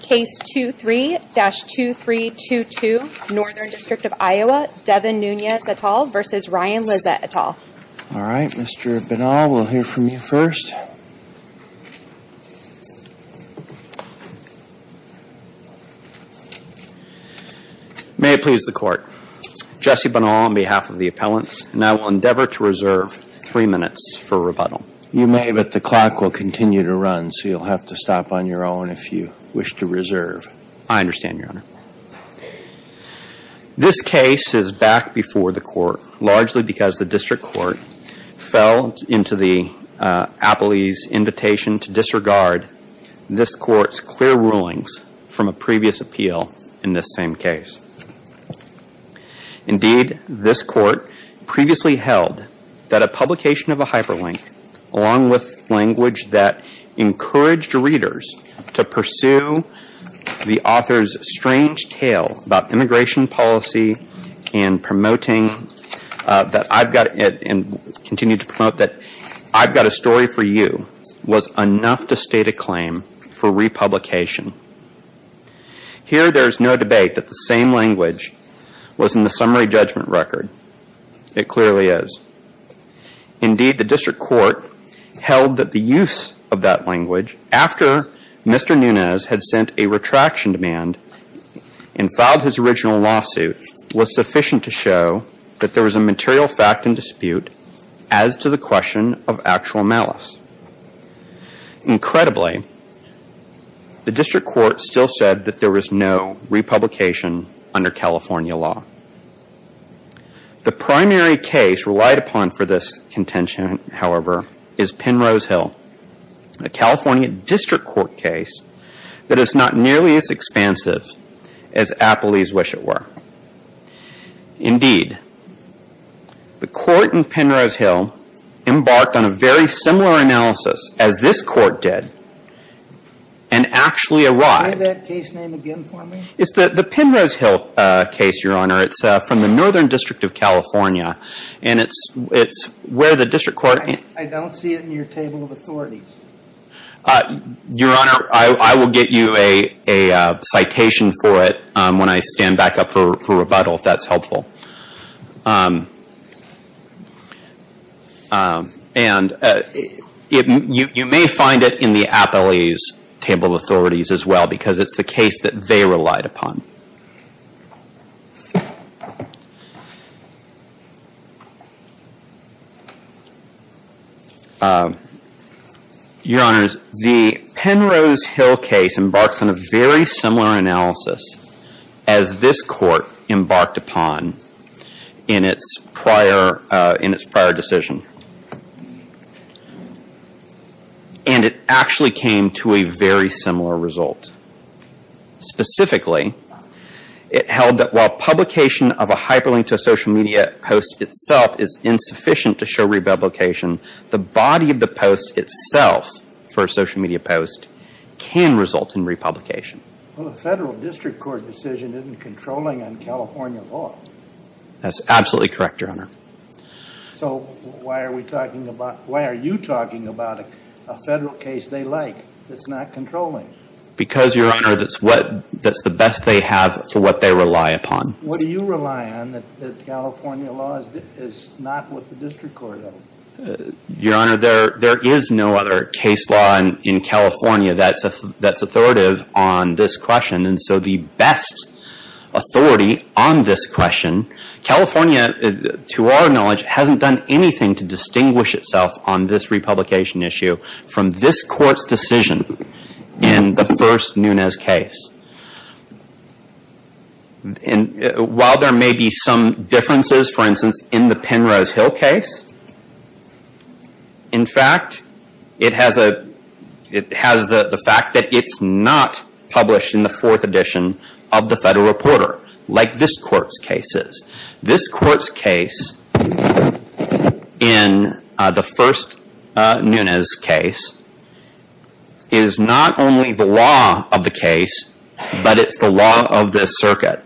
Case 23-2322, Northern District of Iowa, Devin Nunes et al. v. Ryan Lizza et al. All right, Mr. Bonnell, we'll hear from you first. May it please the Court. Jesse Bonnell on behalf of the appellants, and I will endeavor to reserve three minutes for rebuttal. You may, but the clock will continue to run, so you'll have to stop on your own if you wish to reserve. I understand, Your Honor. This case is back before the Court largely because the District Court fell into the appellee's invitation to disregard this Court's clear rulings from a previous appeal in this same case. Indeed, this Court previously held that a publication of a hyperlink, along with language that encouraged readers to pursue the author's strange tale about immigration policy and promoting that I've got a story for you, was enough to state a claim for republication. Here, there is no debate that the same language was in the summary judgment record. It clearly is. Indeed, the District Court held that the use of that language, after Mr. Nunes had sent a retraction demand and filed his original lawsuit, was sufficient to show that there was a material fact in dispute as to the question of actual malice. Incredibly, the District Court still said that there was no republication under California law. The primary case relied upon for this contention, however, is Penrose Hill, a California District Court case that is not nearly as expansive as appellees wish it were. Indeed, the Court in Penrose Hill embarked on a very similar analysis as this Court did and actually arrived... Can you say that case name again for me? It's the Penrose Hill case, Your Honor. It's from the Northern District of California, and it's where the District Court... I don't see it in your table of authorities. Your Honor, I will get you a citation for it when I stand back up for rebuttal, if that's helpful. You may find it in the appellee's table of authorities as well, because it's the case that they relied upon. Your Honors, the Penrose Hill case embarks on a very similar analysis as this Court embarked upon in its prior decision. And it actually came to a very similar result. Specifically, it held that while publication of a hyperlink to a social media post itself is insufficient to show republication, the body of the post itself, for a social media post, can result in republication. Well, the Federal District Court decision isn't controlling on California law. That's absolutely correct, Your Honor. So, why are you talking about a Federal case they like that's not controlling? Because, Your Honor, that's the best they have for what they rely upon. What do you rely on that California law is not what the District Court is? Your Honor, there is no other case law in California that's authoritative on this question. And so, the best authority on this question, California, to our knowledge, hasn't done anything to distinguish itself on this republication issue from this Court's decision in the first Nunes case. While there may be some differences, for instance, in the Penrose Hill case, in fact, it has the fact that it's not published in the fourth edition of the Federal Reporter, like this Court's case is. This Court's case, in the first Nunes case, is not only the law of the case, but it's the law of this circuit.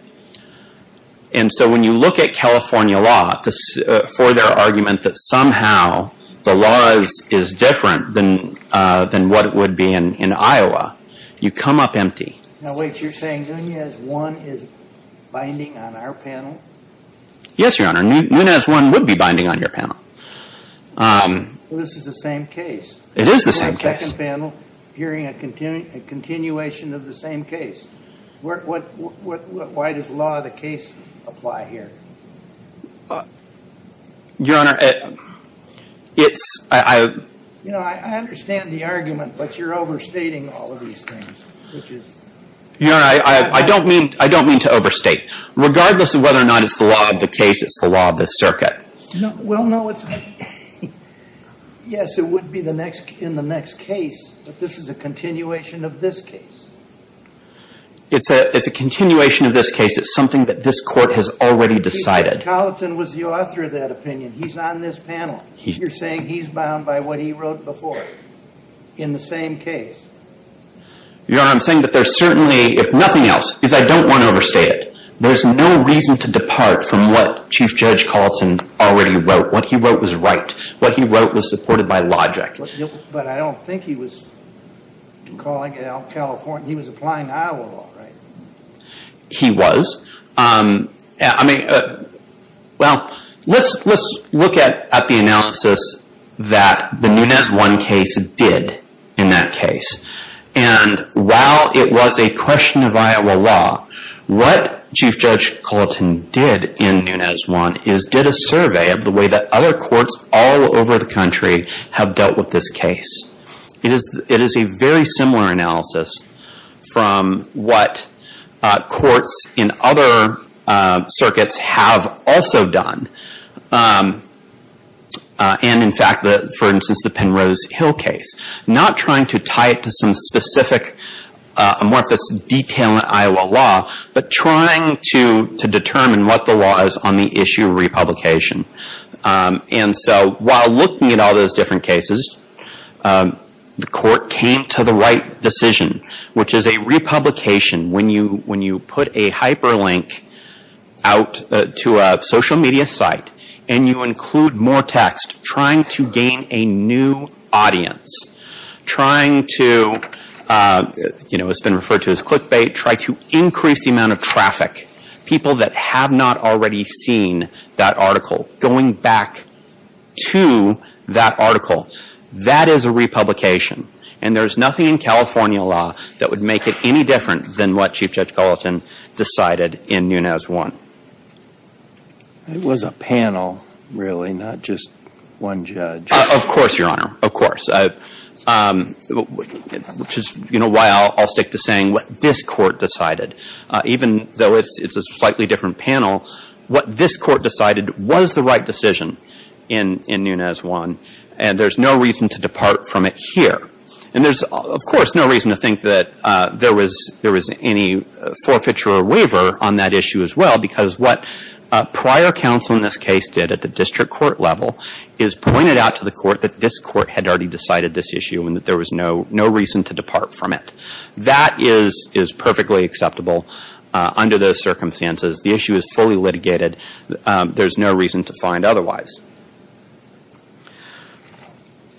And so, when you look at California law for their argument that somehow the law is different than what it would be in Iowa, you come up empty. Now, wait, you're saying Nunes 1 is binding on our panel? Yes, Your Honor. Nunes 1 would be binding on your panel. Well, this is the same case. It is the same case. We have a second panel hearing a continuation of the same case. Why does the law of the case apply here? Your Honor, it's – I – You know, I understand the argument, but you're overstating all of these things, which is – Your Honor, I don't mean to overstate. Regardless of whether or not it's the law of the case, it's the law of this circuit. Well, no, it's – yes, it would be in the next case, but this is a continuation of this case. It's a continuation of this case. It's something that this Court has already decided. Mr. Colleton was the author of that opinion. He's on this panel. You're saying he's bound by what he wrote before in the same case? Your Honor, I'm saying that there's certainly, if nothing else, because I don't want to overstate it, there's no reason to depart from what Chief Judge Colleton already wrote. What he wrote was right. What he wrote was supported by logic. But I don't think he was calling it out California. He was applying Iowa law, right? He was. I mean, well, let's look at the analysis that the Nunez-Wan case did in that case. And while it was a question of Iowa law, what Chief Judge Colleton did in Nunez-Wan is did a survey of the way that other courts all over the country have dealt with this case. It is a very similar analysis from what courts in other circuits have also done. And, in fact, for instance, the Penrose Hill case. Not trying to tie it to some specific amorphous detail in Iowa law, but trying to determine what the law is on the issue of republication. And so while looking at all those different cases, the court came to the right decision, which is a republication. When you put a hyperlink out to a social media site and you include more text, trying to gain a new audience, trying to, you know, it's been referred to as click bait, try to increase the amount of traffic, people that have not already seen that article going back to that article. That is a republication. And there's nothing in California law that would make it any different than what Chief Judge Colleton decided in Nunez-Wan. It was a panel, really, not just one judge. Of course, Your Honor. Of course. Which is, you know, why I'll stick to saying what this court decided. Even though it's a slightly different panel, what this court decided was the right decision in Nunez-Wan. And there's no reason to depart from it here. And there's, of course, no reason to think that there was any forfeiture or waiver on that issue as well, because what prior counsel in this case did at the district court level is pointed out to the court that this court had already decided this issue and that there was no reason to depart from it. That is perfectly acceptable under those circumstances. The issue is fully litigated. There's no reason to find otherwise.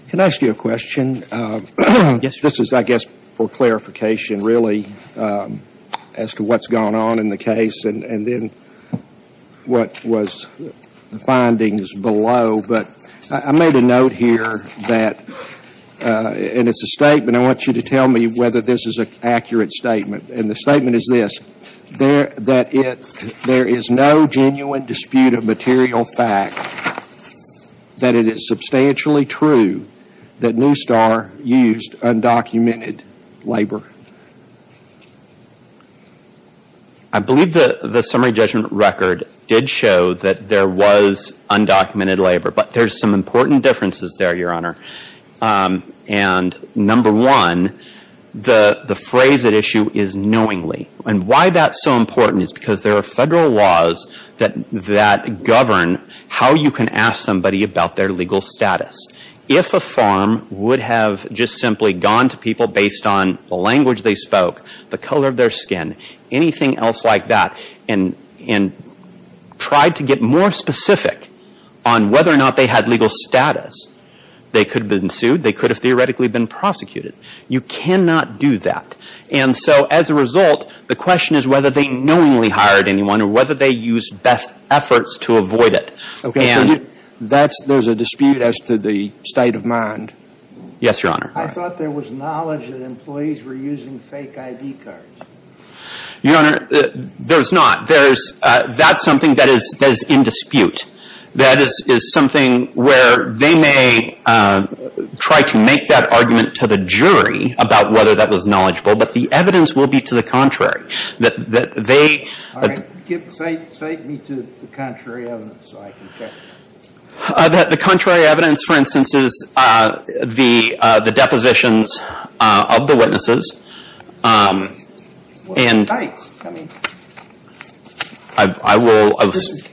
Can I ask you a question? Yes, Your Honor. This is, I guess, for clarification, really, as to what's gone on in the case and then what was the findings below. But I made a note here that, and it's a statement. I want you to tell me whether this is an accurate statement. And the statement is this, that there is no genuine dispute of material fact that it is substantially true that Newstar used undocumented labor. I believe the summary judgment record did show that there was undocumented labor. But there's some important differences there, Your Honor. And number one, the phrase at issue is knowingly. And why that's so important is because there are federal laws that govern how you can ask somebody about their legal status. If a farm would have just simply gone to people based on the language they spoke, the color of their skin, anything else like that, and tried to get more specific on whether or not they had legal status, they could have been sued. They could have theoretically been prosecuted. You cannot do that. And so, as a result, the question is whether they knowingly hired anyone or whether they used best efforts to avoid it. There's a dispute as to the state of mind. Yes, Your Honor. I thought there was knowledge that employees were using fake ID cards. Your Honor, there's not. That's something that is in dispute. That is something where they may try to make that argument to the jury about whether that was knowledgeable. But the evidence will be to the contrary. All right. Cite me to the contrary evidence so I can check. The contrary evidence, for instance, is the depositions of the witnesses. Well, cites. I mean,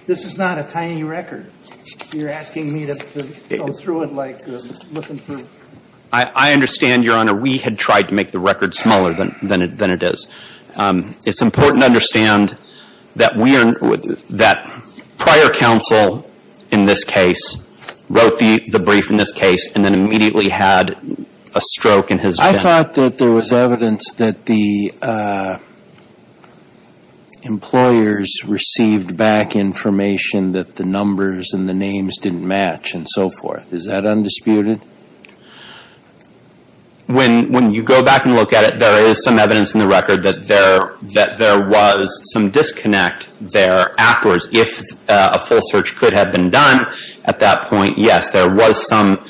this is not a tiny record. You're asking me to go through it like I'm looking through. I understand, Your Honor. We had tried to make the record smaller than it is. It's important to understand that prior counsel in this case wrote the brief in this case and then immediately had a stroke in his head. I thought that there was evidence that the employers received back information that the numbers and the names didn't match and so forth. Is that undisputed? When you go back and look at it, there is some evidence in the record that there was some disconnect there afterwards. If a full search could have been done at that point, yes, there was some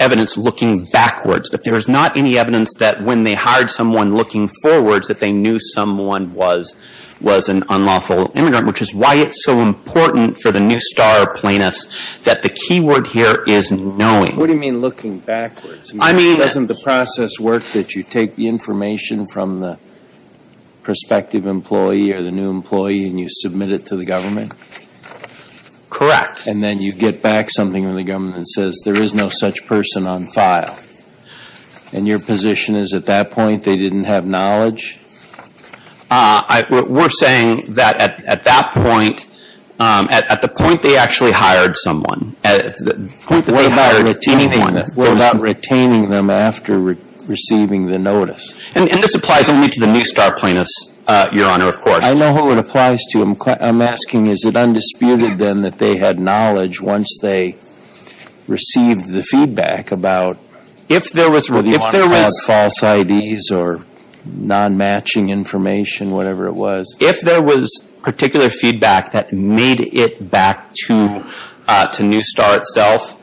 evidence looking backwards. But there is not any evidence that when they hired someone looking forwards that they knew someone was an unlawful immigrant, which is why it's so important for the New Star plaintiffs that the keyword here is knowing. What do you mean looking backwards? I mean, doesn't the process work that you take the information from the prospective employee or the new employee and you submit it to the government? Correct. And then you get back something from the government that says there is no such person on file. And your position is at that point they didn't have knowledge? We're saying that at that point, at the point they actually hired someone, the point that they hired anyone. We're not retaining them after receiving the notice. And this applies only to the New Star plaintiffs, Your Honor, of course. I know who it applies to. I'm asking is it undisputed then that they had knowledge once they received the feedback about whether you want to call it false IDs or non-match? Matching information, whatever it was. If there was particular feedback that made it back to New Star itself,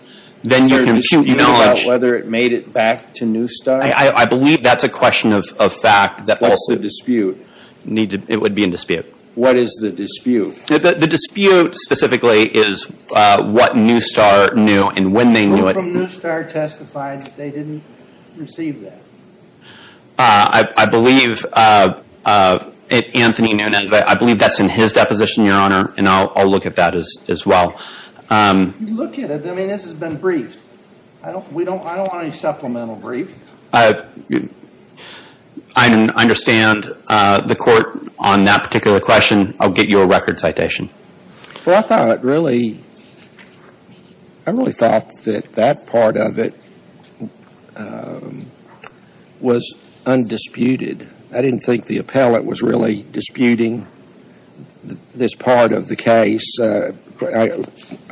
then you can accuse knowledge. Is there a dispute about whether it made it back to New Star? I believe that's a question of fact. What's the dispute? It would be in dispute. What is the dispute? The dispute specifically is what New Star knew and when they knew it. Who from New Star testified that they didn't receive that? I believe Anthony Nunes. I believe that's in his deposition, Your Honor, and I'll look at that as well. Look at it. I mean, this has been briefed. I don't want any supplemental brief. I understand the court on that particular question. I'll get you a record citation. Well, I really thought that that part of it was undisputed. I didn't think the appellate was really disputing this part of the case. I'll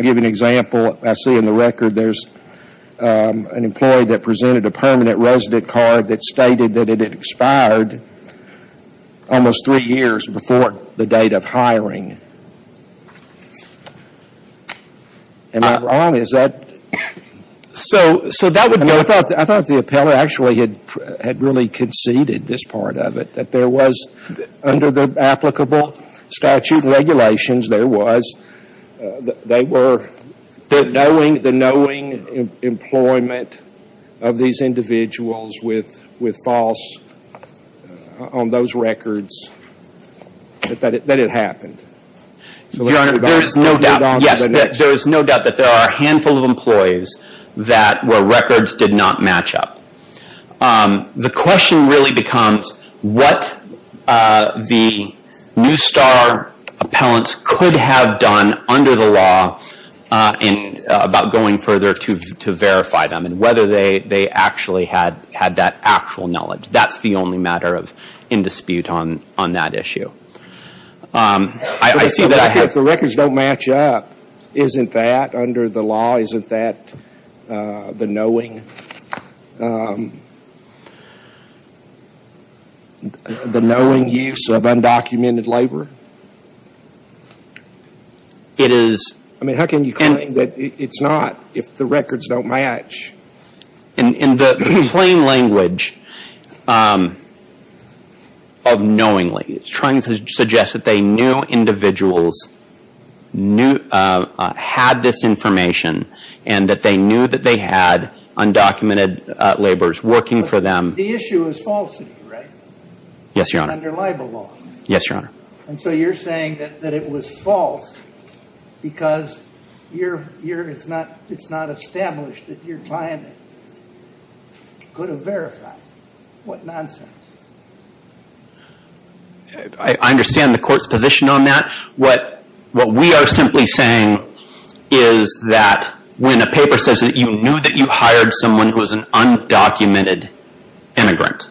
give you an example. I see in the record there's an employee that presented a permanent resident card that stated that it had expired almost three years before the date of hiring. Am I wrong? Is that? So that would be. I thought the appellate actually had really conceded this part of it, that there was, under the applicable statute and regulations, there was the knowing employment of these individuals with false on those records that it happened. Your Honor, there is no doubt. Yes, there is no doubt that there are a handful of employees where records did not match up. The question really becomes what the New Star appellants could have done under the law about going further to verify them and whether they actually had that actual knowledge. That's the only matter in dispute on that issue. I see that. If the records don't match up, isn't that under the law, isn't that the knowing use of undocumented labor? It is. I mean, how can you claim that it's not if the records don't match? In the plain language of knowingly, trying to suggest that they knew individuals had this information and that they knew that they had undocumented laborers working for them. The issue is falsity, right? Yes, Your Honor. Under libel law. Yes, Your Honor. And so you're saying that it was false because it's not established that your client could have verified. What nonsense. I understand the court's position on that. What we are simply saying is that when a paper says that you knew that you hired someone who was an undocumented immigrant,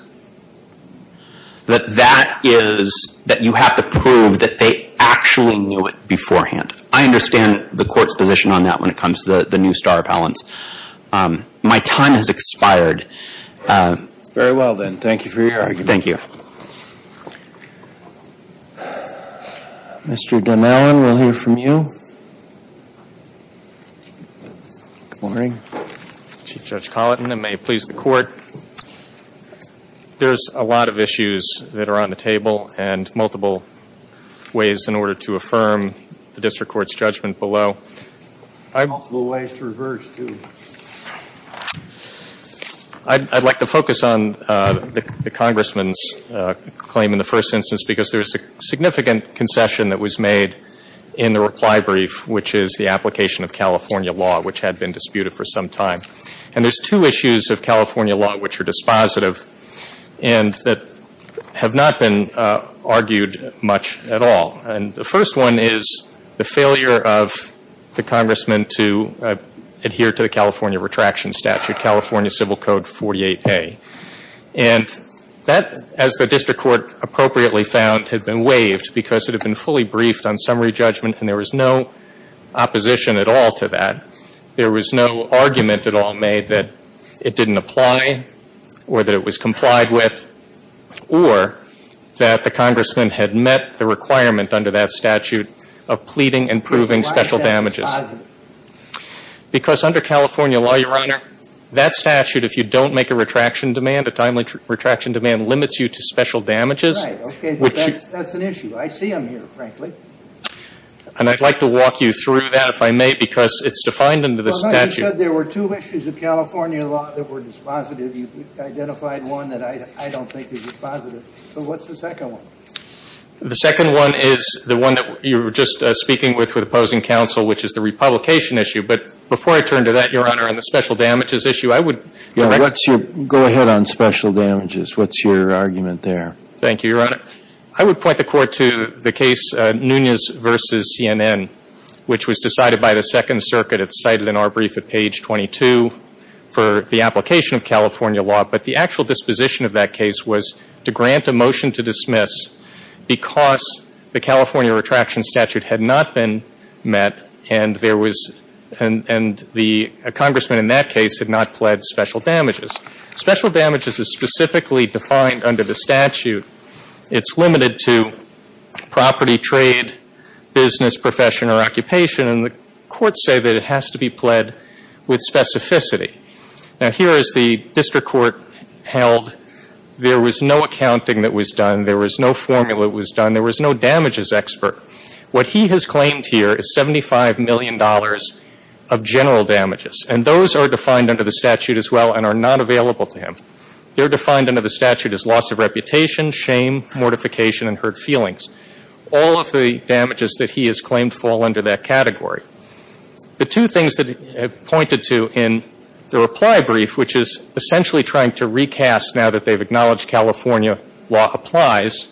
that that is that you have to prove that they actually knew it beforehand. I understand the court's position on that when it comes to the new star appellants. My time has expired. Very well, then. Thank you for your argument. Thank you. Mr. Dunn-Allen, we'll hear from you. Good morning. Chief Judge Collin, and may it please the Court. There's a lot of issues that are on the table and multiple ways in order to affirm the district court's judgment below. Multiple ways to reverse, too. I'd like to focus on the Congressman's claim in the first instance because there's a significant concession that was made in the reply brief, which is the application of California law, which had been disputed for some time. And there's two issues of California law which are dispositive and that have not been argued much at all. And the first one is the failure of the Congressman to adhere to the California Retraction Statute, California Civil Code 48A. And that, as the district court appropriately found, had been waived because it had been fully briefed on summary judgment and there was no opposition at all to that. There was no argument at all made that it didn't apply or that it was complied with or that the Congressman had met the requirement under that statute of pleading and proving special damages. Why is that dispositive? Because under California law, Your Honor, that statute, if you don't make a retraction demand, a timely retraction demand limits you to special damages. Right. Okay. That's an issue. I see them here, frankly. And I'd like to walk you through that, if I may, because it's defined under the statute. Your Honor, you said there were two issues of California law that were dispositive. You've identified one that I don't think is dispositive. So what's the second one? The second one is the one that you were just speaking with with opposing counsel, which is the republication issue. But before I turn to that, Your Honor, on the special damages issue, I would direct you. Go ahead on special damages. What's your argument there? Thank you, Your Honor. I would point the Court to the case Nunez v. CNN, which was decided by the Second Circuit. It's cited in our brief at page 22 for the application of California law. But the actual disposition of that case was to grant a motion to dismiss because the California retraction statute had not been met and there was and the Congressman in that case had not pled special damages. Special damages is specifically defined under the statute. It's limited to property, trade, business, profession, or occupation. And the courts say that it has to be pled with specificity. Now, here is the district court held. There was no accounting that was done. There was no formula that was done. There was no damages expert. What he has claimed here is $75 million of general damages. And those are defined under the statute as well and are not available to him. They're defined under the statute as loss of reputation, shame, mortification, and hurt feelings. All of the damages that he has claimed fall under that category. The two things that he pointed to in the reply brief, which is essentially trying to recast now that they've acknowledged California law applies,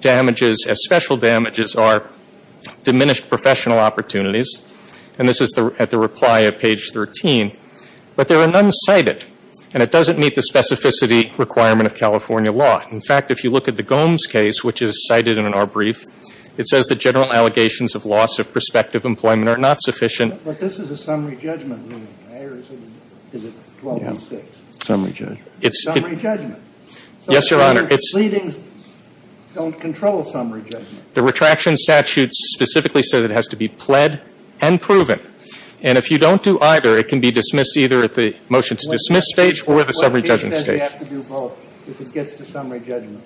damages as special damages are diminished professional opportunities. And this is at the reply of page 13. But there are none cited. And it doesn't meet the specificity requirement of California law. In fact, if you look at the Gomes case, which is cited in our brief, it says that general allegations of loss of prospective employment are not sufficient. But this is a summary judgment ruling, right? Or is it 12-6? Summary judgment. Summary judgment. Yes, Your Honor. It's leadings don't control summary judgment. The retraction statute specifically says it has to be pled and proven. And if you don't do either, it can be dismissed either at the motion to dismiss stage or the summary judgment stage. What page says you have to do both if it gets to summary judgment?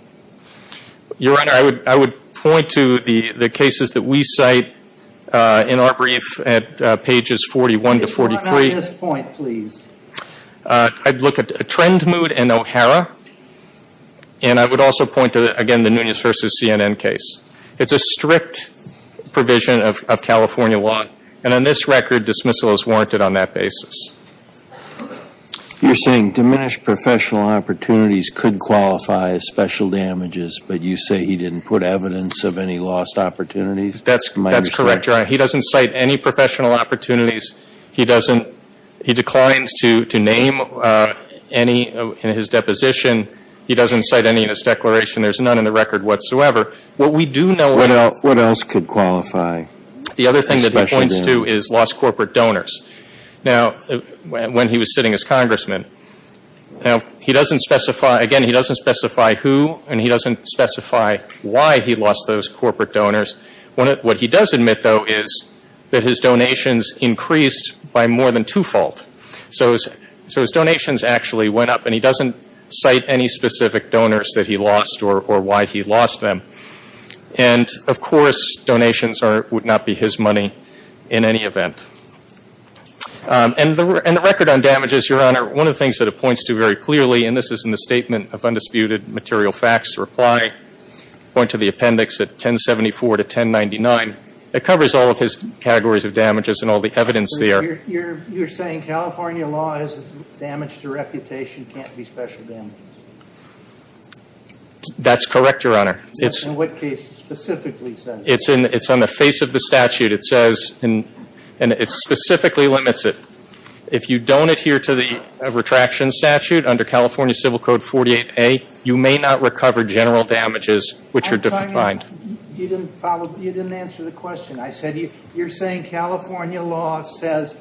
Your Honor, I would point to the cases that we cite in our brief at pages 41 to 43. If you run out at this point, please. I'd look at Trendmood and O'Hara. And I would also point to, again, the Nunez v. CNN case. It's a strict provision of California law. And on this record, dismissal is warranted on that basis. You're saying diminished professional opportunities could qualify as special damages, but you say he didn't put evidence of any lost opportunities? That's correct, Your Honor. He doesn't cite any professional opportunities. He doesn't he declines to name any in his deposition. He doesn't cite any in his declaration. There's none in the record whatsoever. What we do know is that the other thing that he points to is lost corporate donors. Now, when he was sitting as Congressman, he doesn't specify, again, he doesn't specify who and he doesn't specify why he lost those corporate donors. What he does admit, though, is that his donations increased by more than two-fold. So his donations actually went up, and he doesn't cite any specific donors that he lost or why he lost them. And, of course, donations would not be his money in any event. And the record on damages, Your Honor, one of the things that it points to very clearly, and this is in the Statement of Undisputed Material Facts reply, point to the appendix at 1074 to 1099, it covers all of his categories of damages and all the evidence there. So you're saying California law is damage to reputation, can't be special damages? That's correct, Your Honor. In what case specifically says that? It's on the face of the statute. It says, and it specifically limits it. If you don't adhere to the retraction statute under California Civil Code 48A, you may not recover general damages which are defined. You didn't follow, you didn't answer the question. I said you're saying California law says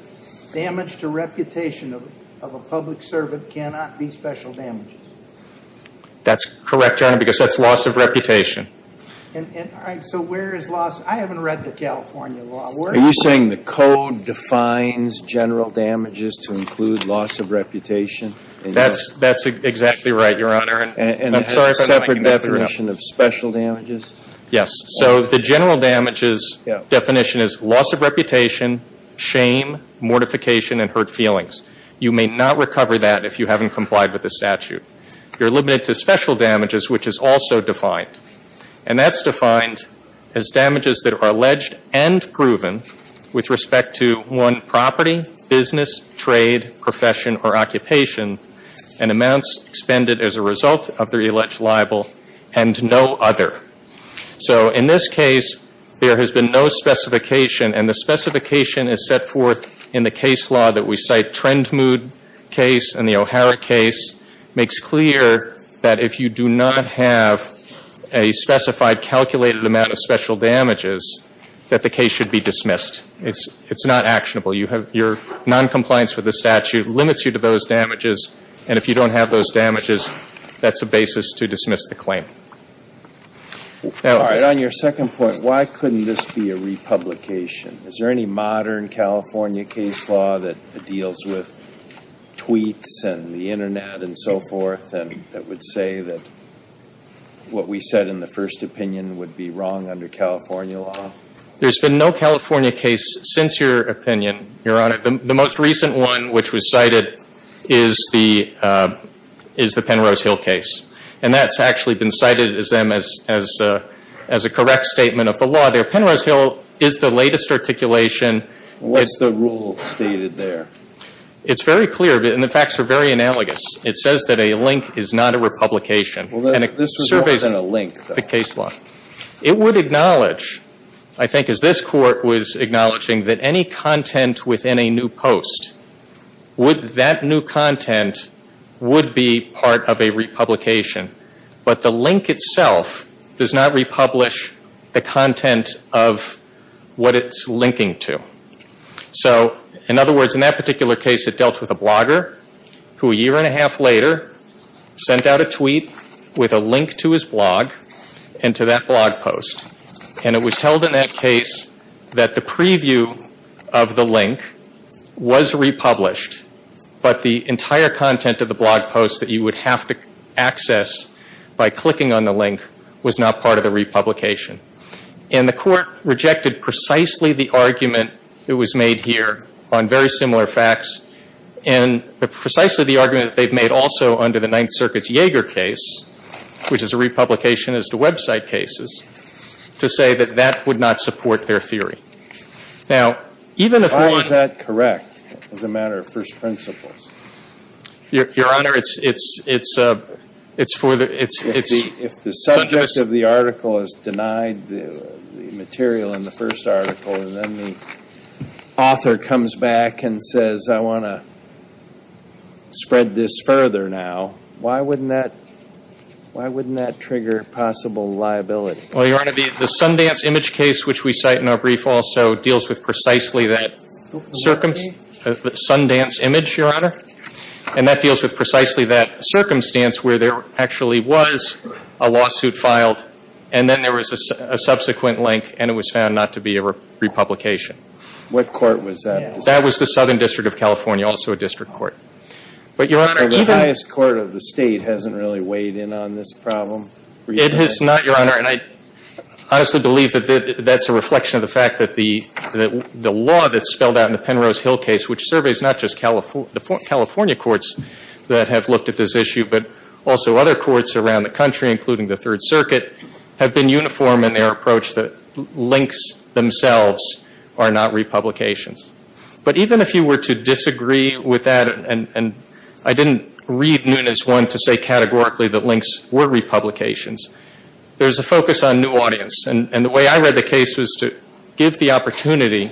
damage to reputation of a public servant cannot be special damages. That's correct, Your Honor, because that's loss of reputation. And so where is loss? I haven't read the California law. Are you saying the code defines general damages to include loss of reputation? That's exactly right, Your Honor. And it has a separate definition of special damages? Yes. So the general damages definition is loss of reputation, shame, mortification, and hurt feelings. You may not recover that if you haven't complied with the statute. You're limited to special damages, which is also defined. And that's defined as damages that are alleged and proven with respect to, one, property, business, trade, profession, or occupation, and amounts expended as a result of the alleged libel and no other. So in this case, there has been no specification, and the specification is set forth in the case law that we cite. Trendmood case and the O'Hara case makes clear that if you do not have a specified calculated amount of special damages, that the case should be dismissed. It's not actionable. Your noncompliance with the statute limits you to those damages, and if you don't have those damages, that's a basis to dismiss the claim. All right. On your second point, why couldn't this be a republication? Is there any modern California case law that deals with tweets and the Internet and so forth that would say that what we said in the first opinion would be wrong under California law? There's been no California case since your opinion, Your Honor. The most recent one which was cited is the Penrose Hill case, and that's actually been cited as a correct statement of the law there. Penrose Hill is the latest articulation. What's the rule stated there? It's very clear, and the facts are very analogous. It says that a link is not a republication. Well, this was more than a link, though. The case law. It would acknowledge, I think as this Court was acknowledging, that any content within a new post, that new content would be part of a republication, but the link itself does not republish the content of what it's linking to. So, in other words, in that particular case, it dealt with a blogger who a year and a half later sent out a tweet with a link to his blog and to that blog post, and it was held in that case that the preview of the link was republished, but the entire content of the blog post that you would have to access by clicking on the link was not part of the republication. And the Court rejected precisely the argument that was made here on very similar facts and precisely the argument that they've made also under the Ninth Circuit's Yeager case, which is a republication as to website cases, to say that that would not support their theory. Now, even if one... Why is that correct as a matter of first principles? Your Honor, it's for the... If the subject of the article is denied the material in the first article and then the author comes back and says, I want to spread this further now, why wouldn't that trigger possible liability? Well, Your Honor, the Sundance image case, which we cite in our brief, also deals with precisely that Sundance image, Your Honor, and that deals with precisely that circumstance where there actually was a lawsuit filed and then there was a subsequent link and it was found not to be a republication. What court was that? That was the Southern District of California, also a district court. So the highest court of the state hasn't really weighed in on this problem? It has not, Your Honor, and I honestly believe that that's a reflection of the fact that the law that's spelled out in the Penrose Hill case, which surveys not just the California courts that have looked at this issue, but also other courts around the country, including the Third Circuit, have been uniform in their approach that links themselves are not republications. But even if you were to disagree with that, and I didn't read Nunes 1 to say categorically that links were republications, there's a focus on new audience, and the way I read the case was to give the opportunity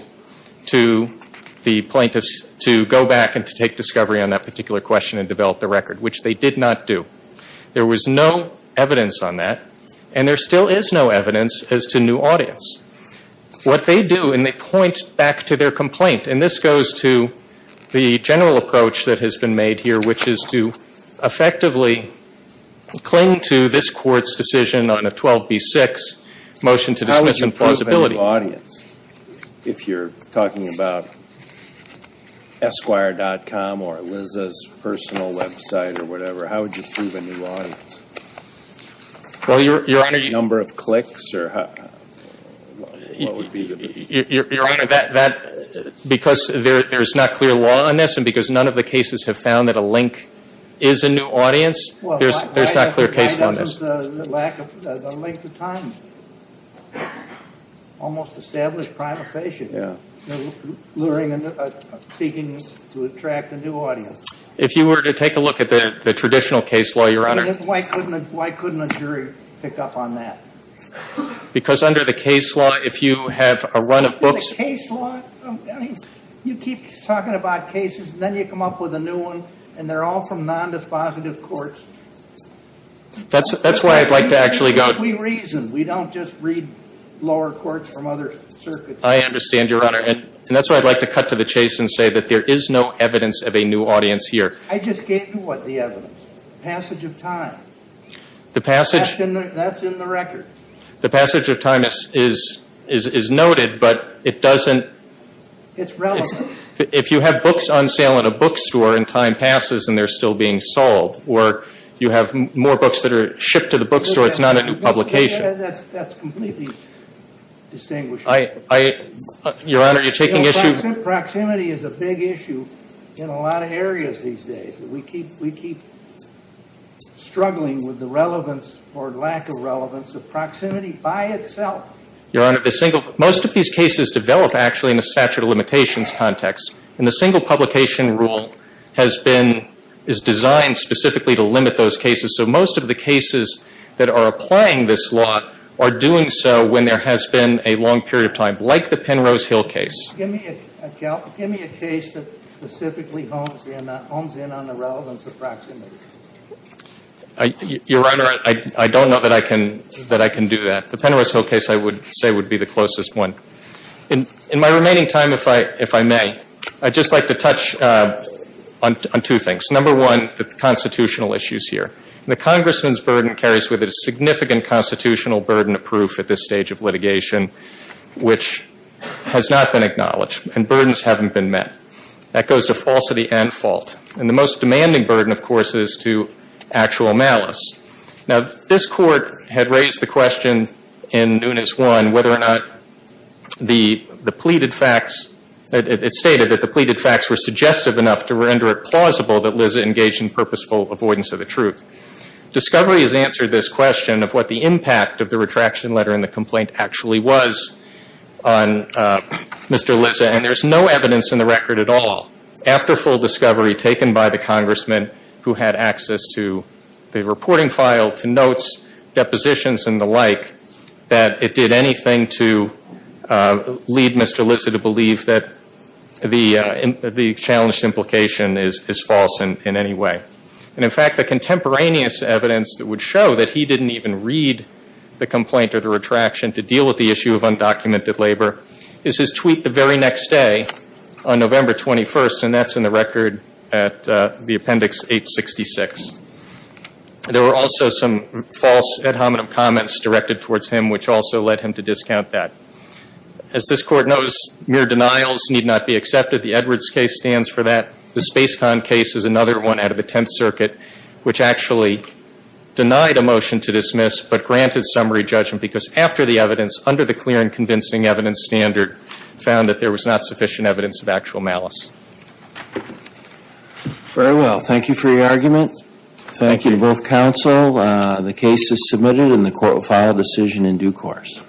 to the plaintiffs to go back and to take discovery on that particular question and develop the record, which they did not do. There was no evidence on that, and there still is no evidence as to new audience. What they do, and they point back to their complaint, and this goes to the general approach that has been made here, which is to effectively cling to this Court's decision on a 12B6 motion to dismiss in plausibility. How would you prove a new audience if you're talking about Esquire.com or Liz's personal website or whatever? How would you prove a new audience? Well, Your Honor, you... Your Honor, that, because there's not clear law on this and because none of the cases have found that a link is a new audience, there's not clear case law on this. The lack of a length of time. Almost established prima facie. Yeah. Seeking to attract a new audience. If you were to take a look at the traditional case law, Your Honor... Why couldn't a jury pick up on that? Because under the case law, if you have a run of books... Case law? I mean, you keep talking about cases, and then you come up with a new one, and they're all from non-dispositive courts. That's why I'd like to actually go... We reason. We don't just read lower courts from other circuits. I understand, Your Honor, and that's why I'd like to cut to the chase and say that there is no evidence of a new audience here. I just gave you, what, the evidence. Passage of time. The passage... That's in the record. The passage of time is noted, but it doesn't... It's relevant. If you have books on sale in a bookstore and time passes and they're still being sold, or you have more books that are shipped to the bookstore, it's not a new publication. That's completely distinguishing. Your Honor, you're taking issue... Proximity is a big issue in a lot of areas these days. We keep struggling with the relevance or lack of relevance of proximity by itself. Your Honor, the single... Most of these cases develop, actually, in a statute of limitations context, and the single publication rule has been... is designed specifically to limit those cases. So most of the cases that are applying this law are doing so when there has been a long period of time, like the Penrose Hill case. Give me a case that specifically hones in on the relevance of proximity. Your Honor, I don't know that I can do that. The Penrose Hill case, I would say, would be the closest one. In my remaining time, if I may, I'd just like to touch on two things. Number one, the constitutional issues here. The congressman's burden carries with it a significant constitutional burden of proof at this stage of litigation, which has not been acknowledged, and burdens haven't been met. That goes to falsity and fault. And the most demanding burden, of course, is to actual malice. Now, this court had raised the question in Nunes 1 whether or not the pleaded facts... it stated that the pleaded facts were suggestive enough to render it plausible that Liz had engaged in purposeful avoidance of the truth. Discovery has answered this question of what the impact of the retraction letter and the complaint actually was on Mr. Lizza, and there's no evidence in the record at all after full discovery taken by the congressman who had access to the reporting file, to notes, depositions, and the like, that it did anything to lead Mr. Lizza to believe that the challenged implication is false in any way. And, in fact, the contemporaneous evidence that would show that he didn't even read the complaint or the retraction to deal with the issue of undocumented labor is his tweet the very next day on November 21st, and that's in the record at the appendix 866. There were also some false ad hominem comments directed towards him, which also led him to discount that. As this court knows, mere denials need not be accepted. The Edwards case stands for that. The Space Con case is another one out of the Tenth Circuit which actually denied a motion to dismiss but granted summary judgment because after the evidence, under the clear and convincing evidence standard, found that there was not sufficient evidence of actual malice. Very well. Thank you for your argument. Thank you to both counsel. The case is submitted, and the court will file a decision in due course.